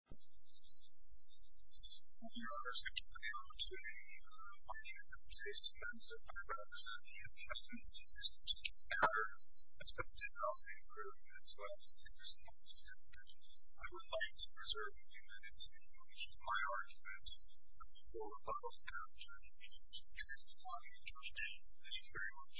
I would like to reserve a few minutes in which my argument for the public housing strategy is extremely highly interesting. Thank you very much.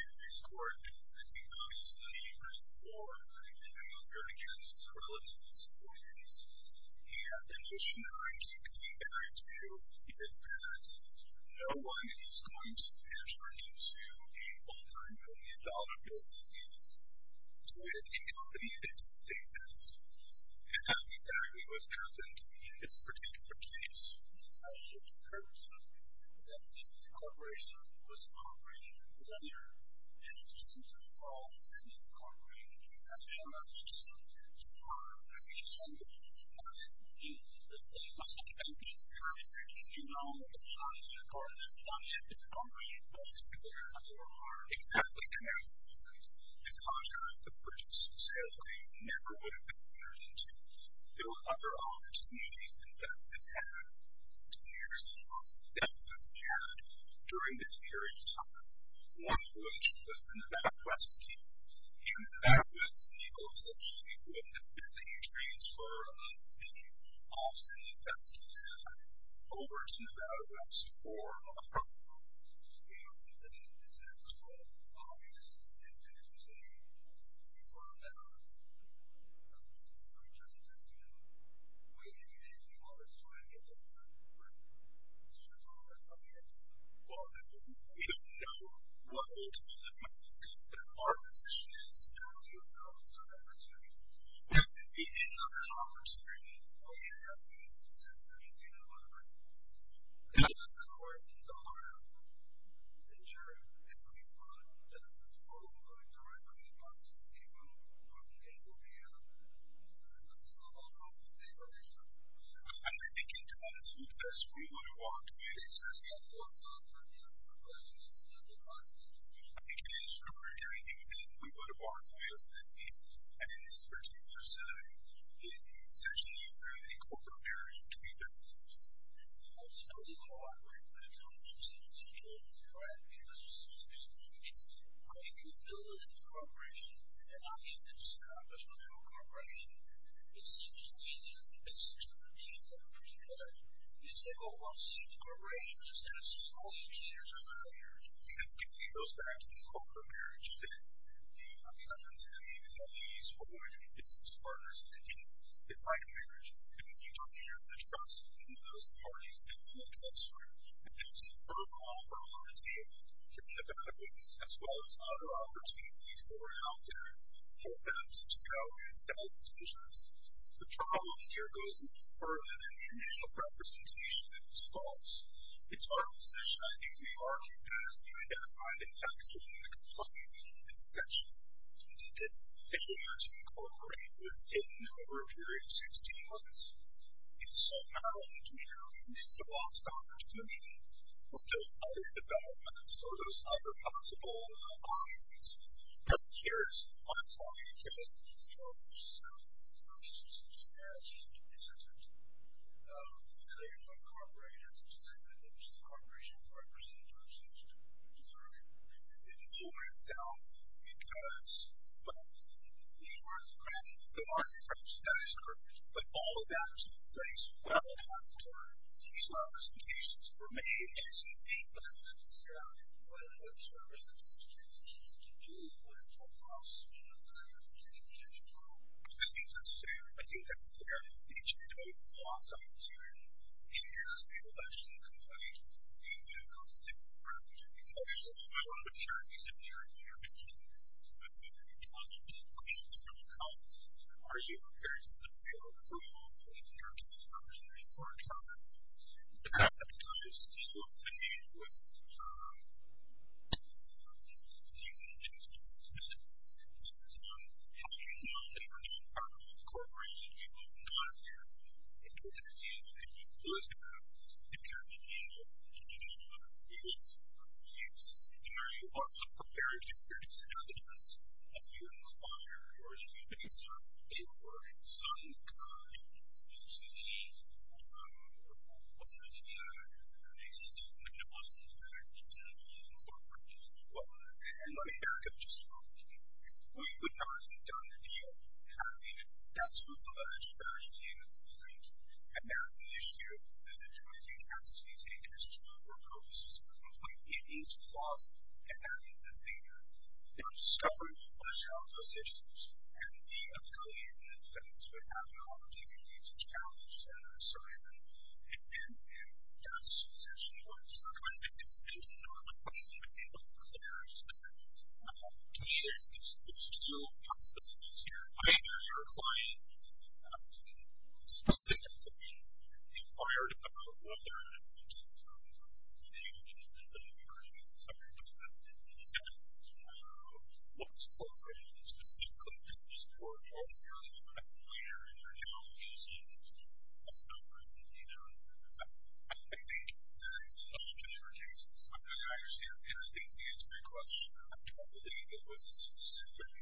In this court, I think obviously the argument for and the argument against relative disappointments and conditionaries to compare it to is that no one is going to enter into a multi-million dollar business deal with a company that doesn't exist. And that's exactly what's happened in this particular case. I should note, though, that the corporation was a corporation of the lender, and it seems as though any corporation that you have ever seen or heard of actually exists in this case. I think, first, that you know that a company is a corporation. A company is a company. A company is a company. A company is a company. A company is a company. There were other opportunities that Vested had. Two years ago, some of them that we had during this period of time, one of which was the Nevada West deal. In the Nevada West deal, essentially, with the transfer of any office in Vested over to Nevada West for a property. Is that true? Obviously. As you say, it's one of them. I mean, just as you know. Wait until you get to the office, so I can get to the office. Is that true? I mean, it's one of them. We don't know what role that might play. Our position is, you know, you have to know that Vested exists. It's not that I'm pursuing it. I mean, Vested exists. I mean, you know what I mean. Thank you. In other words, you don't want to injure anybody, but you don't want to directly harm some people who are being able to be able to move into the local neighborhood. I think it depends who the person we want to walk with. I think it depends on everything that we want to walk with, and in this particular setting, it's essentially a corporate marriage between businesses. So, you know, we cooperate with a couple of businesses in the neighborhood, right, because it seems to me that if you build a corporation, and I'm in this professional-level corporation, it seems to me that it's the basics of the game that are pretty good. You say, oh, well, see, the corporation is going to see all the engineers around here. Because it goes back to this corporate marriage thing. I mean, I'm not saying that these employees are going to be business partners in the game. It's like a marriage. And if you don't have the trust in those parties, then you won't get through. If you have some firm offer on the table, then you're going to lose as well as other opportunities that are out there for them to go and settle decisions. The problem here goes even further than the initial representation that was false. It's our position, I think, that we are going to have to identify the facts of the complaint, essentially, that this failure to cooperate was hidden over a period of 16 months. And so not only do we have to lose the last opportunity for those other developments or those other possible offerings, but here's what I'm talking about. So, the reason this is a marriage is because of the failure to cooperate and the fact that there's a corporation that's representing those things too. It's for itself, because, well, these aren't the crimes. There are the crimes. That is correct. But all of that is going to take place. Well, at the same time, these are the cases for many agencies. Well, what services do agencies have to do with the loss of the opportunity to prove? I think that's fair, I do think that's fair. Each of those loss of opportunity is a election complaint and an election requirement. Of course, one of the terms in there is your opportunity. One of the questions from the comments is, are you prepared to sit with your approval of the opportunity for a trial? At this time, we're still working with agencies in the United States. How do you know that you are part of an incorporation? You will not have included you, and you would have interpreted you as a community member. Yes, and are you also prepared to produce evidence that you require or that you have served in or in some kind of a community? Or what are the basis of your diagnosis that you're going to be incorporated as well? Let me back up just a moment here. We would not have done the deal having that sort of a large value point, and that's an issue that ultimately has to be taken as true or posed as completely at ease with loss, and that is the same here. You know, discovering the question of those issues and the abilities and the ability to have an opportunity to challenge and assertion, and that's essentially what it is. I'm trying to make the distinction. I don't have a question, but it was a very specific. To me, there's two possibilities here. Either your client specifically inquired about whether or not you served in a community, and the second possibility is, what support have you received specifically to support what you're currently doing? And how have you seen yourself as an organization? I think there's two different answers. I understand, and I think the answer to your question, I don't believe it was a specific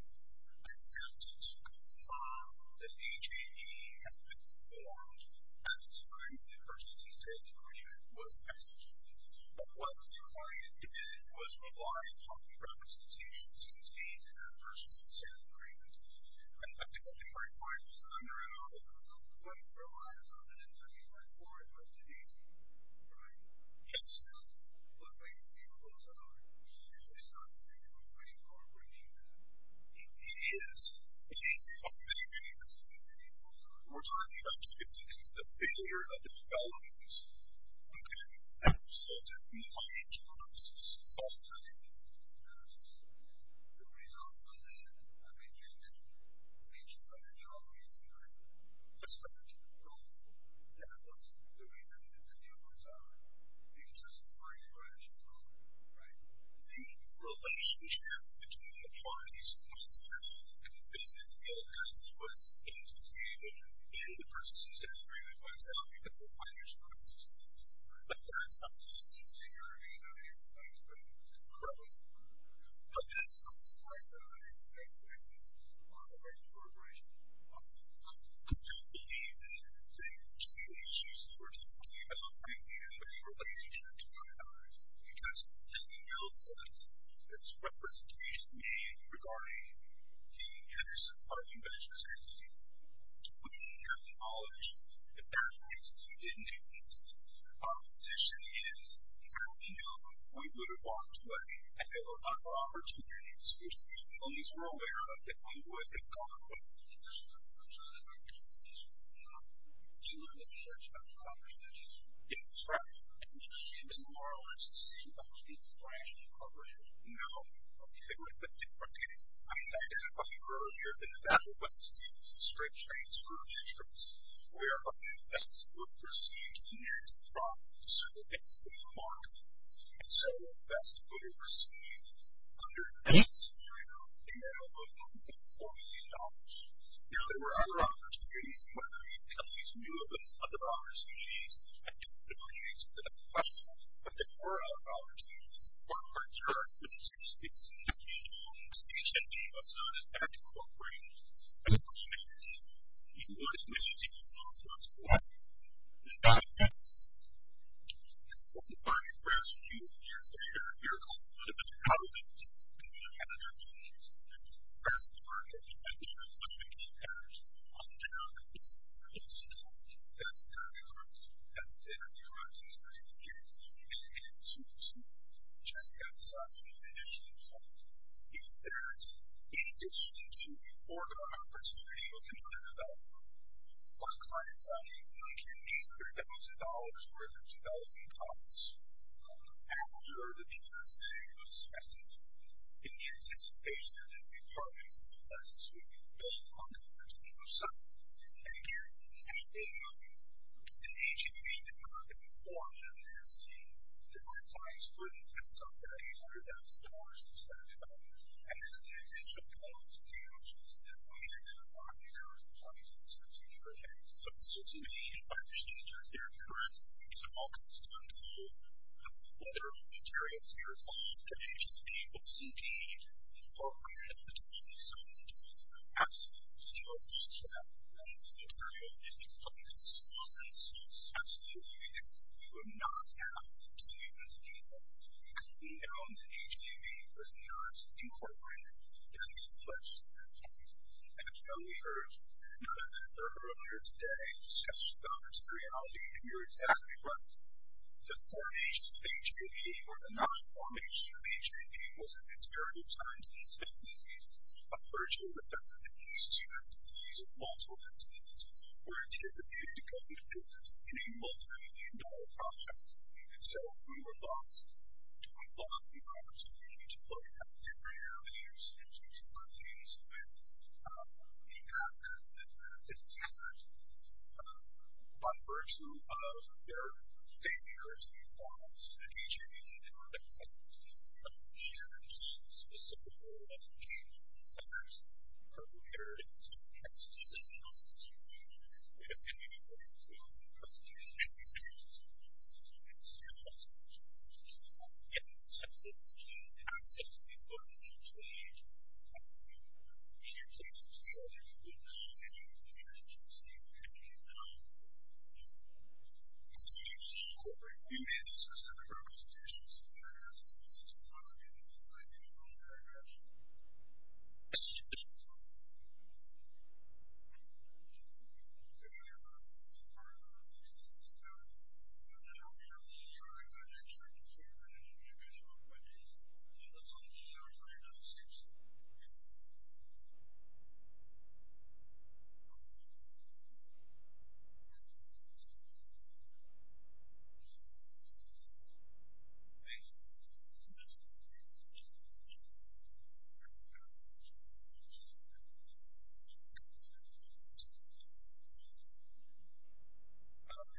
attempt to confirm that the HIE had been formed at the time the person who served in our unit was executed. But what the client did was rely upon the representations in the state and the persons that served in our unit. And I think what my point was, under and above it was, oh, but it relies on an interview report by the HIE. Right? Yes. Now, one way to deal with those other issues is not to take a complaint or bring it in. It is. It is. Many, many, many, many, many, many, many, many, many, You easily identified those two problems. They both are investments in the employees, but we are the actual representatives of the company, and the HIE was always the one handling those problems. trying to did us so badly, and at the same time, they have not done the right thing. And the person who said, I agree with myself, because for five years, I've been a system. I've done some of the engineering, and I've done some of the development, but that's not the right thing. And I think that's a lot of the right cooperation. I do believe that they were seeing issues that we're talking about, and they were leading to issues of others, because in the middle sense, it's representation made regarding the Henderson We didn't have the knowledge. If that institute didn't exist, our position is, had we known, we would have walked away, and there were a lot more opportunities. We're speaking to employees we're aware of, that we would have gone with. Yes, that's right. No, it was a different case. I mean, I didn't grow up near the Nevada West Indies, the Strait Straits, where I'm from. So, it's a park. And so, that's what we were seeing. Under this scenario, in the middle of $1.4 million, there were other opportunities, and whether we at least knew of those other opportunities, I don't believe that that's a question, but there were other opportunities. Our partners are, when you say states, it's the state, it's HMD, it's not, in fact, a corporate. It's a corporation. You can go to Mississippi, you can go to Florida, you can go to Seattle, you can go to Dallas. And so, the bargain for us, a few years later, here comes a little bit of an outage, and we don't have that anymore. So, that's the bargain, and I think there's a big impact on the general public. So, that's the scenario. That's the scenario, I think, that there is a significant opportunity to get some of that money and to have some additional funds in addition to the important opportunity of another developer. One client said, we can make $300,000 worth of development costs after the GSA was executed in anticipation that a new project would be placed, that a new building would be built on the particular site. And again, the agency that we're looking for is to diversify its funding at some value, $100,000 or $700,000, and then to add additional funds to the outcomes that we had in a five-year or 20-year strategic project. So, it's just a way to actually inject their current needs and all kinds of funds to whether it's materials that are going to be able to be incorporated into the community. So, we're looking for absolutely that material. If it comes to substance, absolutely, we would not have to even think about it because we know that H-P-B was not incorporated. That is less than a point. And as you know, we heard none of that earlier today in discussion about materiality, and you're exactly right. The formation of H-P-B or the non-formation of H-P-B was a material at times in the 60s, a virtual event in the 80s, 60s, and also in the 70s were anticipated to go into business in a multi-million dollar project. And so, we were lost. We lost the opportunity to look at the material that H-P-B was going to use with new assets and new standards by virtue of their failure to meet the requirements that H-P-B needed or that H-P-B needed to meet those requirements. I have a paragraph for you.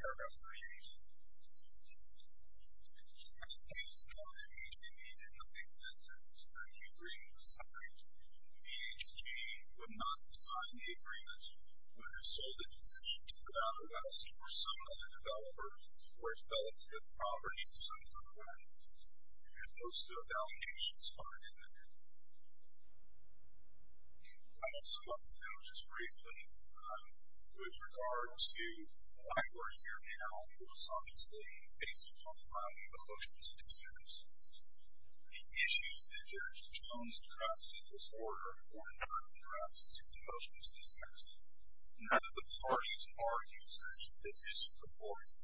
And it states that H-P-B did not exist at the time the agreement was signed. VHG would not have signed the agreement would have sold its position to CloudOS or some other developer where it fell into the property of some other company. And most of those allocations aren't in the agreement. I also want to note, just briefly, with regard to why we're here now, it was obviously based upon the Hushman's concerns. The issues that Judge Jones addressed in this order were not addressed in the Hushman's concerns. None of the parties argued that this is important.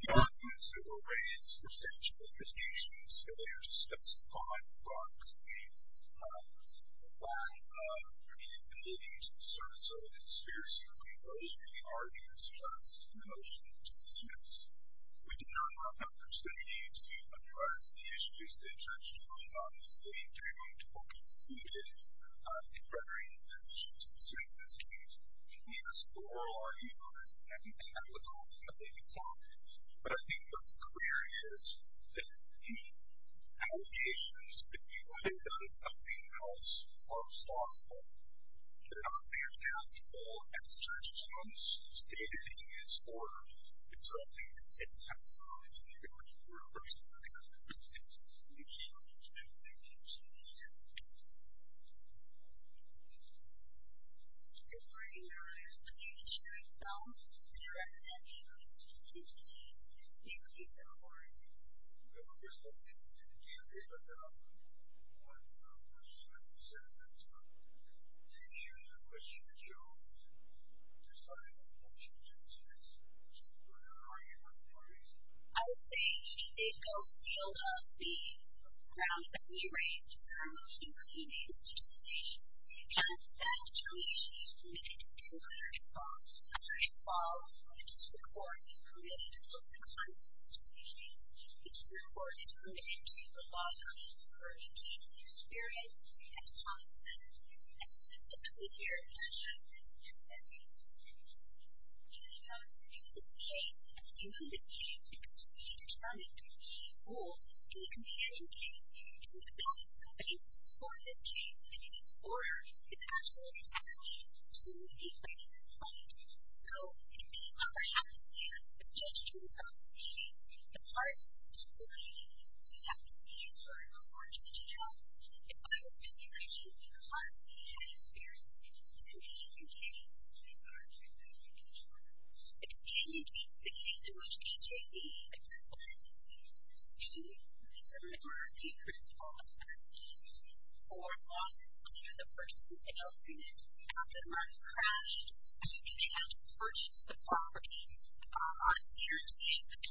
The arguments that were raised were such that H-P-B's failure to specify the property of H-P-B was the result of H-P-B committing to the service of a conspiracy when those were the arguments addressed in the motion to the suits. We did not have an opportunity to address the issues that Judge Jones obviously threw into the debate in rendering his decisions persuasive. He used the oral argument on this and that was ultimately accepted. But I think what's clear is that he allegations that people have done something else are plausible. There are fantastic ex-Judge Jones statements in this order that show things in text form. So, we're looking for a person who can answer those things. Thank you. Thank you.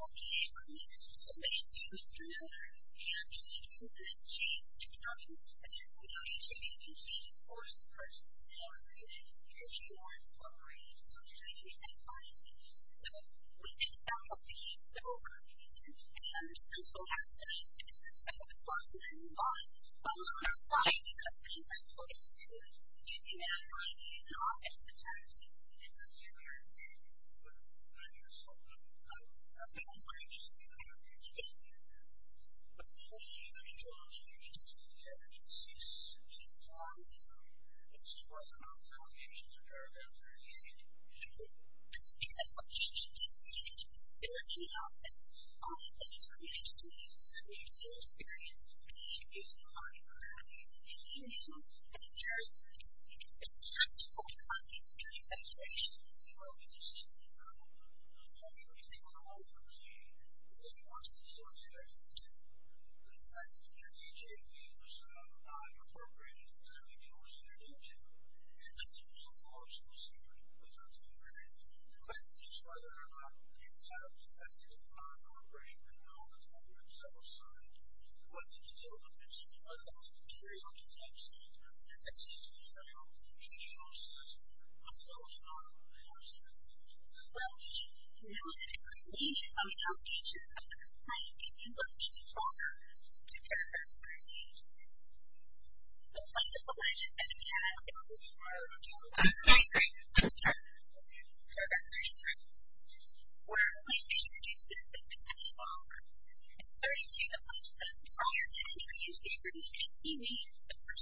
Thank you.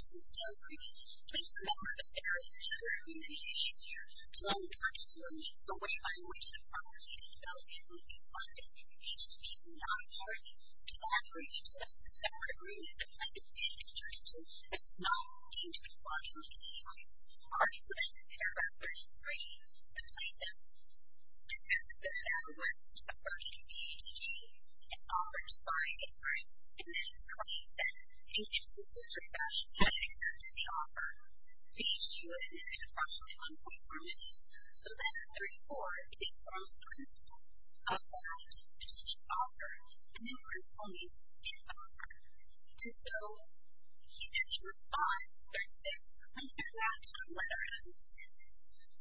All right. There is a motion to adjourn. So, we are adjourned. Thank you. Thank you. Thank you. Thank you. Thank you. I'm going to be talking about how to get your own voice in software. And so, he did a response where he said, I'm sending out to a letter of assistance,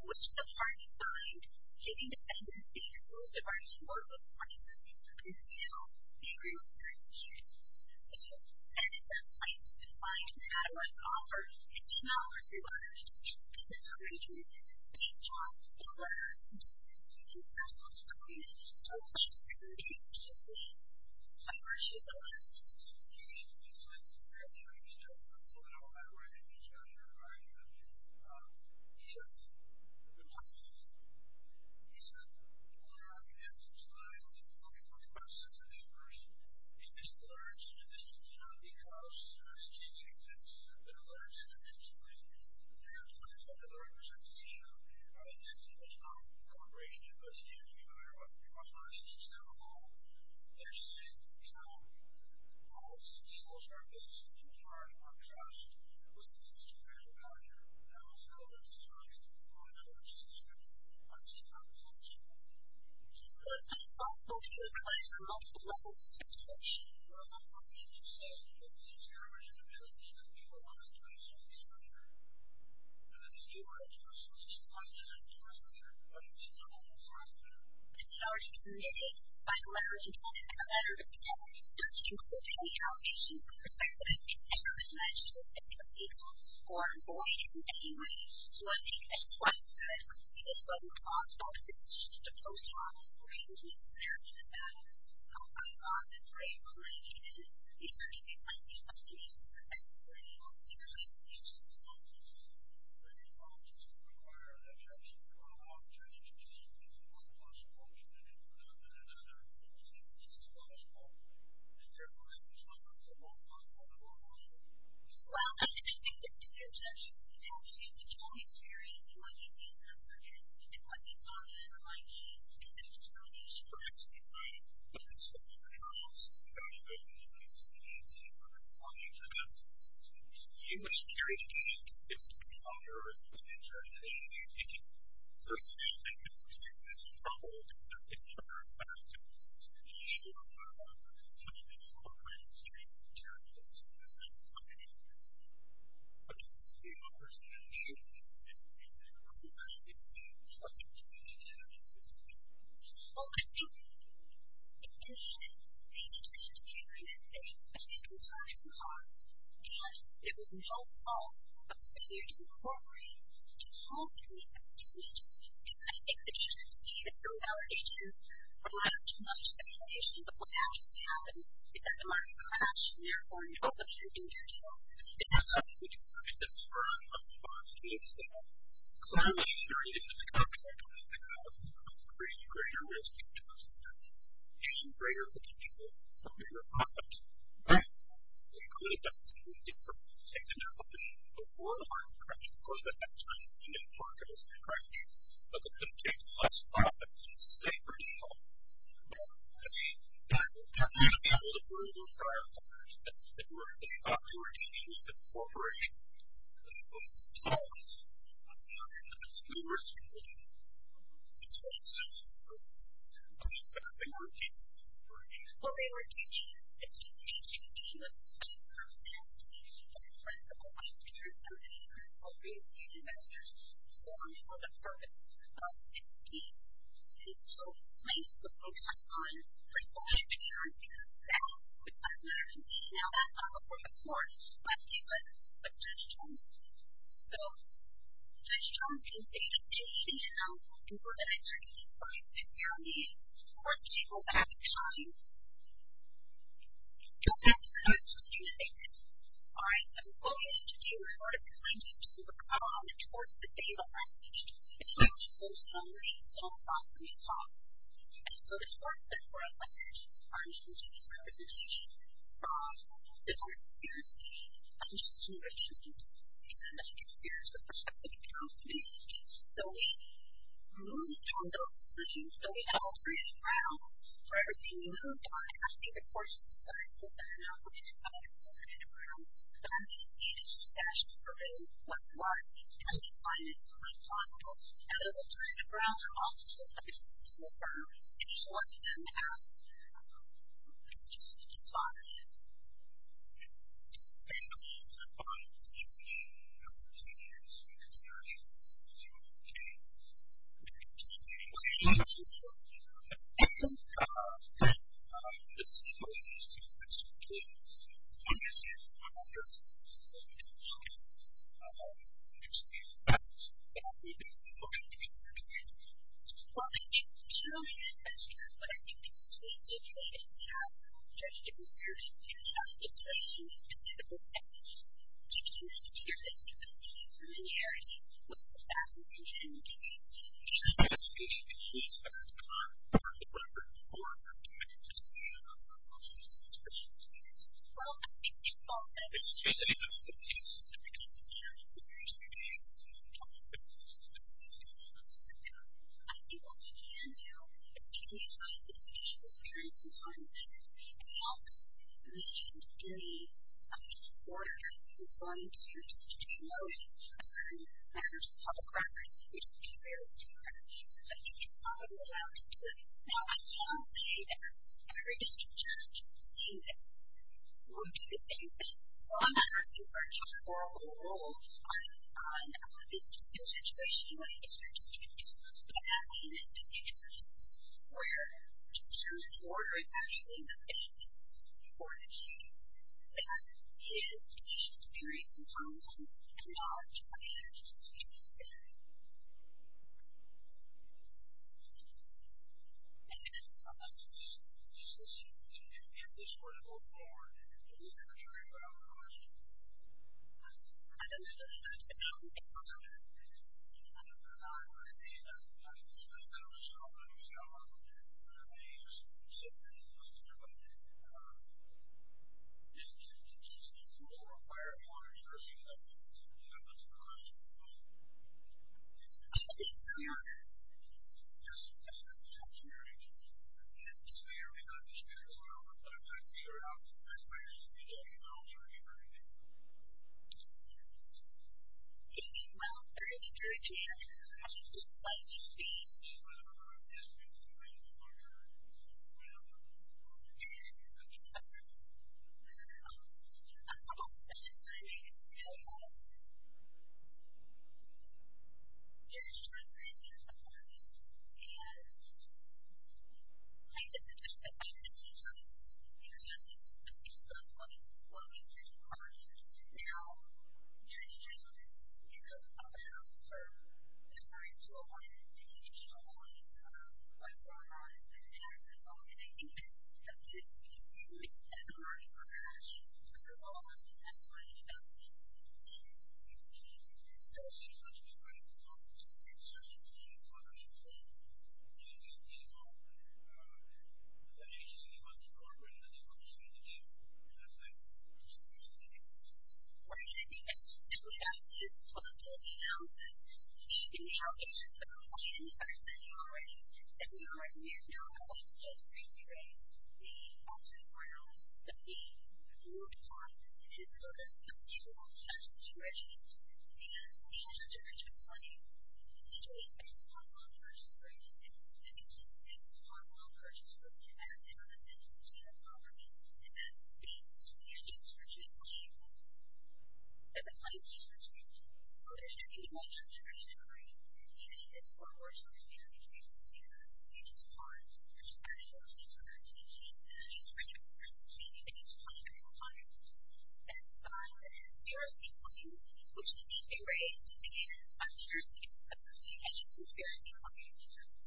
which the parties signed, giving the evidence the exclusive right to work with the parties that they work with to do the agreements that are secured. So, that is the place to find an ad hoc offer and to know if your letter of assistance is going to be a strong letter of assistance, because there are so many, so many different types of letters. And where should the letter of assistance be? So, I think there are different types of letters, but no matter where you get your letter of assistance, he said, the most important thing, he said, a letter of assistance is not only spoken by a person, but by a person. It may be a letter that's independent of you, not because you're not achieving accessibility, but a letter that's independent of you. And when it comes to the letter of assistance issue, it's not a corporation. It's not a CEO. It's not anybody that you know at all. They're saying, you know, all of these people are basically in charge of our trust. We can speak to them as a manager. How do we know that these are acceptable letters of assistance? Let's see if that makes sense. Let's see if that makes sense. Let's see if that makes sense. And then if you are a person, and you find out that you're a person, what do we know about that person? It's already committed by the letter of intent, and the letter of intent doesn't include any allegations of persecution. It never is mentioned in the article or avoided in any way. So, I think as far as I can see, this doesn't talk about the decision to post-mortem or the reason to post-mortem. It doesn't talk about how high the office rate really is. Okay. Okay. Okay. Okay. All right. So what we're going to do is we're going to continue to work on, of course, the data language. It's so socially and so ethosically false. And so, of course, the core message of our research is representation from people's different experiences, not just from their children, but from their peers with respect to the counseling. So we moved on those things. So we have alternative routes. For everything we moved on, I think, of course, we started with the data language. And I'm going to turn it around. So I'm going to use a discussion for a really quick one. And I'm going to find it on my phone. And I'm going to turn it around. And I'm also going to put this into a form. And I'm going to show it to them as a response. So basically, we're going to find a definition of continuous and recursive. So in this case, we're going to take the equation of this function. And we're going to take the sequence of successive kids. So I'm going to say, one of those kids is going to be a child. And I'm going to say, if that's true, then I'm going to take the function of the second kid. Well, I think it's a really good question. But I think the answer is yes. We have the objective of serving two types of patients. And then we're going to teach them the sphere of specificity and similarity. What's the best way to do that? And the best way to do that is to put it into a form. And then we're going to say, well, we're going to use this recursive data. Well, I think it's a good question. It's a really good question. So the question is, can we use recursive data in school? I think what we can do is we can utilize the teacher's experience and knowledge. And we also mentioned in the previous quarter, this volume two, to promote certain matters of public record, which would be really smart. I think it's probably allowed to do it. Now, I can say that every district church seeing this will do the same thing. So I'm not asking for a total rule. I want this to be a situation where the district can do it. But that would be in a specific instance where the teacher's order is actually the basis for the change that is the patient's experience and knowledge, not the teacher's experience and knowledge. Thank you. Is this going to go forward? Do we have a jury for that question? I don't think so. I don't think so. I don't think so. I don't know. I mean, I don't necessarily know. So I don't know. I mean, it's something that we can do. Okay. I just want to make a comment. There is a transformation happening. And I disagree with that. I don't think it's a choice. It's not just a choice. It's not what we should be doing. Now, there is change in this. It's going to be allowed for the current school board to take control of what's going on. And I think that's just a huge and a large crash. I don't know if that's what it is. I think it's a huge change. So I think it's going to be a great opportunity to make sure that the changes are being made and that they're being made well. The patient was the order and then they were just made to do. And that's nice. I think it's a huge thing. I think it's great. And I think that's just what it is now. I think that the whole point is that we are not going to just recreate the altered grounds of the group of hospitals that people are just dredging. Because when you just dredge the money, you need to be a small, well-purchased group. And we need to be a small, well-purchased group as an independent state government. And as a piece. So, we have just recently, at the height of the emergency, so there's going to be a bunch of different categories, and even as far as what we're trying to do, we're trying to figure out what's going to be the most important. And we're actually going to be talking about these three factors, which may be things that we're going to be talking about. And the bottom is scarcity claim, which can be a race against uncertainty. So, you can't just use scarcity claim.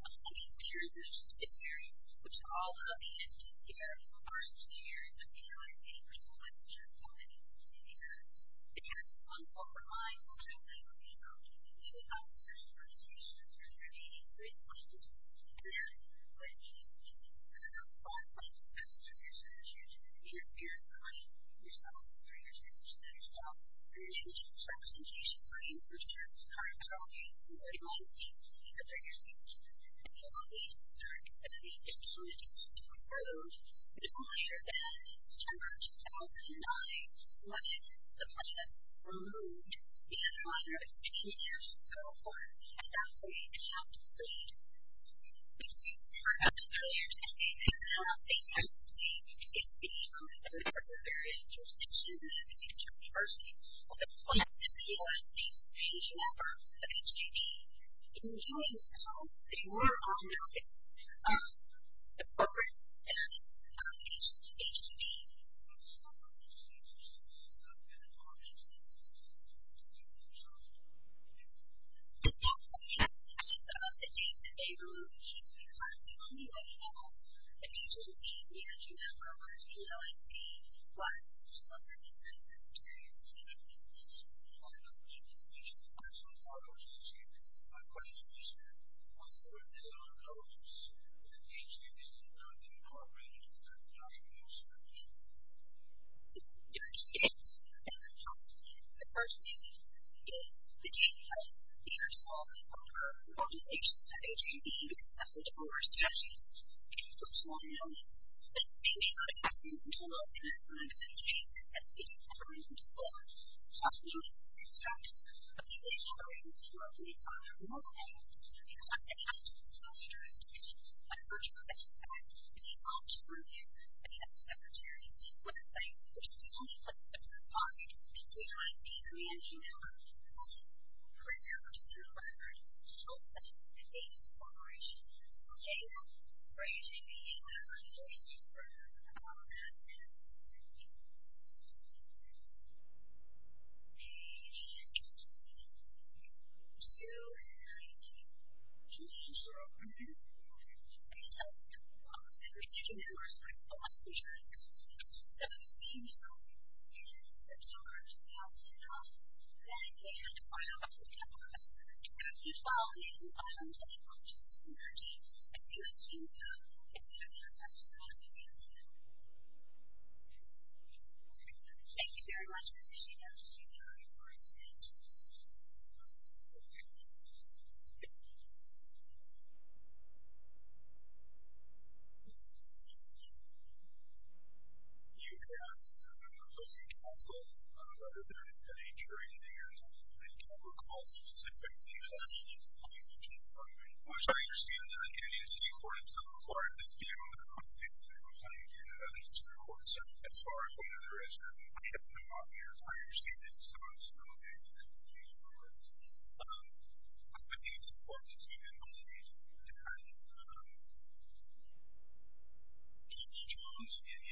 Uncertainty is a series of subsidiaries, which all of the entities here are subsidiaries of the L.A. State Personal Insurance Company. And it has one form of financing. So, if you have a certain reputation, it's going to be a great way to support you there. But it can be kind of complex as to who's going to choose if you're selecting yourself or you're choosing yourself. And then there's representation claim, which is kind of a race against uncertainty. So, you're choosing yourself. So, this was later than September 2009 when the plan was removed. The underwriters have been in years to go for it. And that's why you have to plead. As you heard earlier today, they do not think that the state is being used in the course of various jurisdictions and the inter-university of the West and P.O.S. states, seeking out firms of H.G.B. In doing so, they were on the hook. The program is set up by H.G.B. And that's the end of the day. Today, we're going to be focusing on the A-level. H.G.B., as you may remember, was the L.A. State's wide-spread and diverse and various students who came in and applied for H.G.B. And H.G.B. actually follows H.G.B., So, my question to you, sir, what was the relevance to the H.G.B. and the new operations of the H.G.B. There are two things. And the first thing is that H.G.B. is a smaller and broader organization than H.G.B., because that's the number of statutes. H.G.B. holds more than H.G.B. And H.G.B. is not a comprehensive tool. And that's one of the main reasons that H.G.B. is a comprehensive tool. The second thing is that H.G.B. is a structured tool. But H.G.B. operates more based on their role models. And that's the active school jurisdiction, a virtual background, and the option for members of the other secretaries. One thing that H.G.B. only puts in its pocket is the IEP pre-entry number, the pre-application record, and also the date of the operation. So, J.M., for H.G.B., the IEP number is page 290. And J.M. for H.G.B., the IEP number is page 290. And J.M. for H.G.B., the IEP number is page 290. So, J.M. in September of 2010, then in May of 2011, and in May of 2012, and in May of 2013, H.G.B. is still in use now. If you have any questions about H.G.B. Thank you very much. That's H.G.B. for H.G.B. for H.G.B. Thank you. I think it's important to see that all of these depend on key terms in the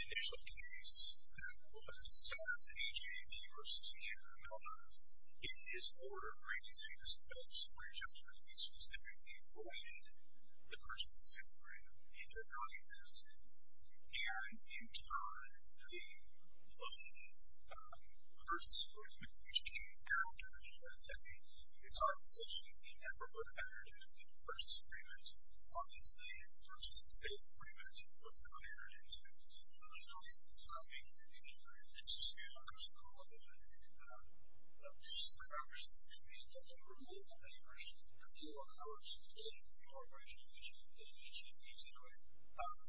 initial case that was set up in H.G.B. versus J.M. In this order, H.G.B. was developed for H.G.B. specifically when the person's disability did not exist, and in turn, the person's disability came after H.G.B. was set up. It's hard to say. It never would have entered into the purchase agreement. Obviously, the purchase and sale agreement was not entered into. But, you know, it's not making any difference. It's just a question of whether or not H.G.B. is the right person for H.G.B. That's a very important thing for H.G.B. for H.G.B. in the corporation that H.G.B. is in, right?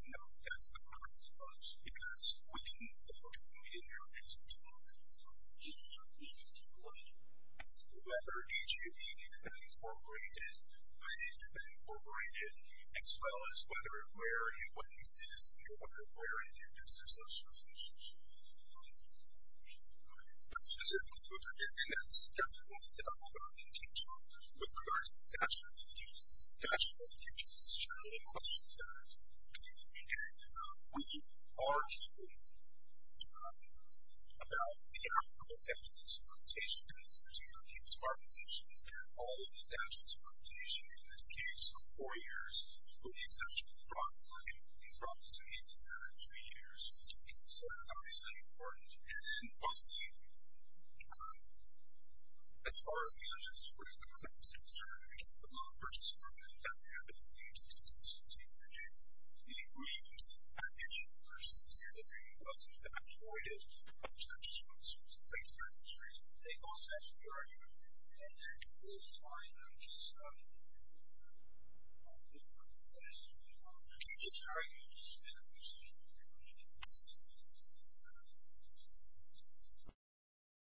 No, that's the question, because when H.G.B. enters into a contract, it's a question of whether H.G.B. had been incorporated, whether it had been incorporated, as well as whether or where it was existing or whether or where it exists as such. But specifically, that's a point that I'm not going to teach you with regards to the statute of limitations. The statute of limitations is generally a question that we argue about the applicable statute of limitations. There's a number of cases where our position is that all of the statutes of limitations, in this case, are four years, with the exception of fraud, and fraud is at least another three years. So, that's obviously important. And then, finally, as far as the purchase agreement, the loan purchase agreement doesn't have any exclusions to the purchase. The exclusions, I mentioned first, is that there are no exclusions. There are four years, with the exception of fraud, so it's three years for this reason. They all pass through our agreement. And then, finally, I just wanted to make a quick point about the importance of the loan purchase agreement. It's very useful, and it's extremely important, and it's something that we need to think about as we move forward.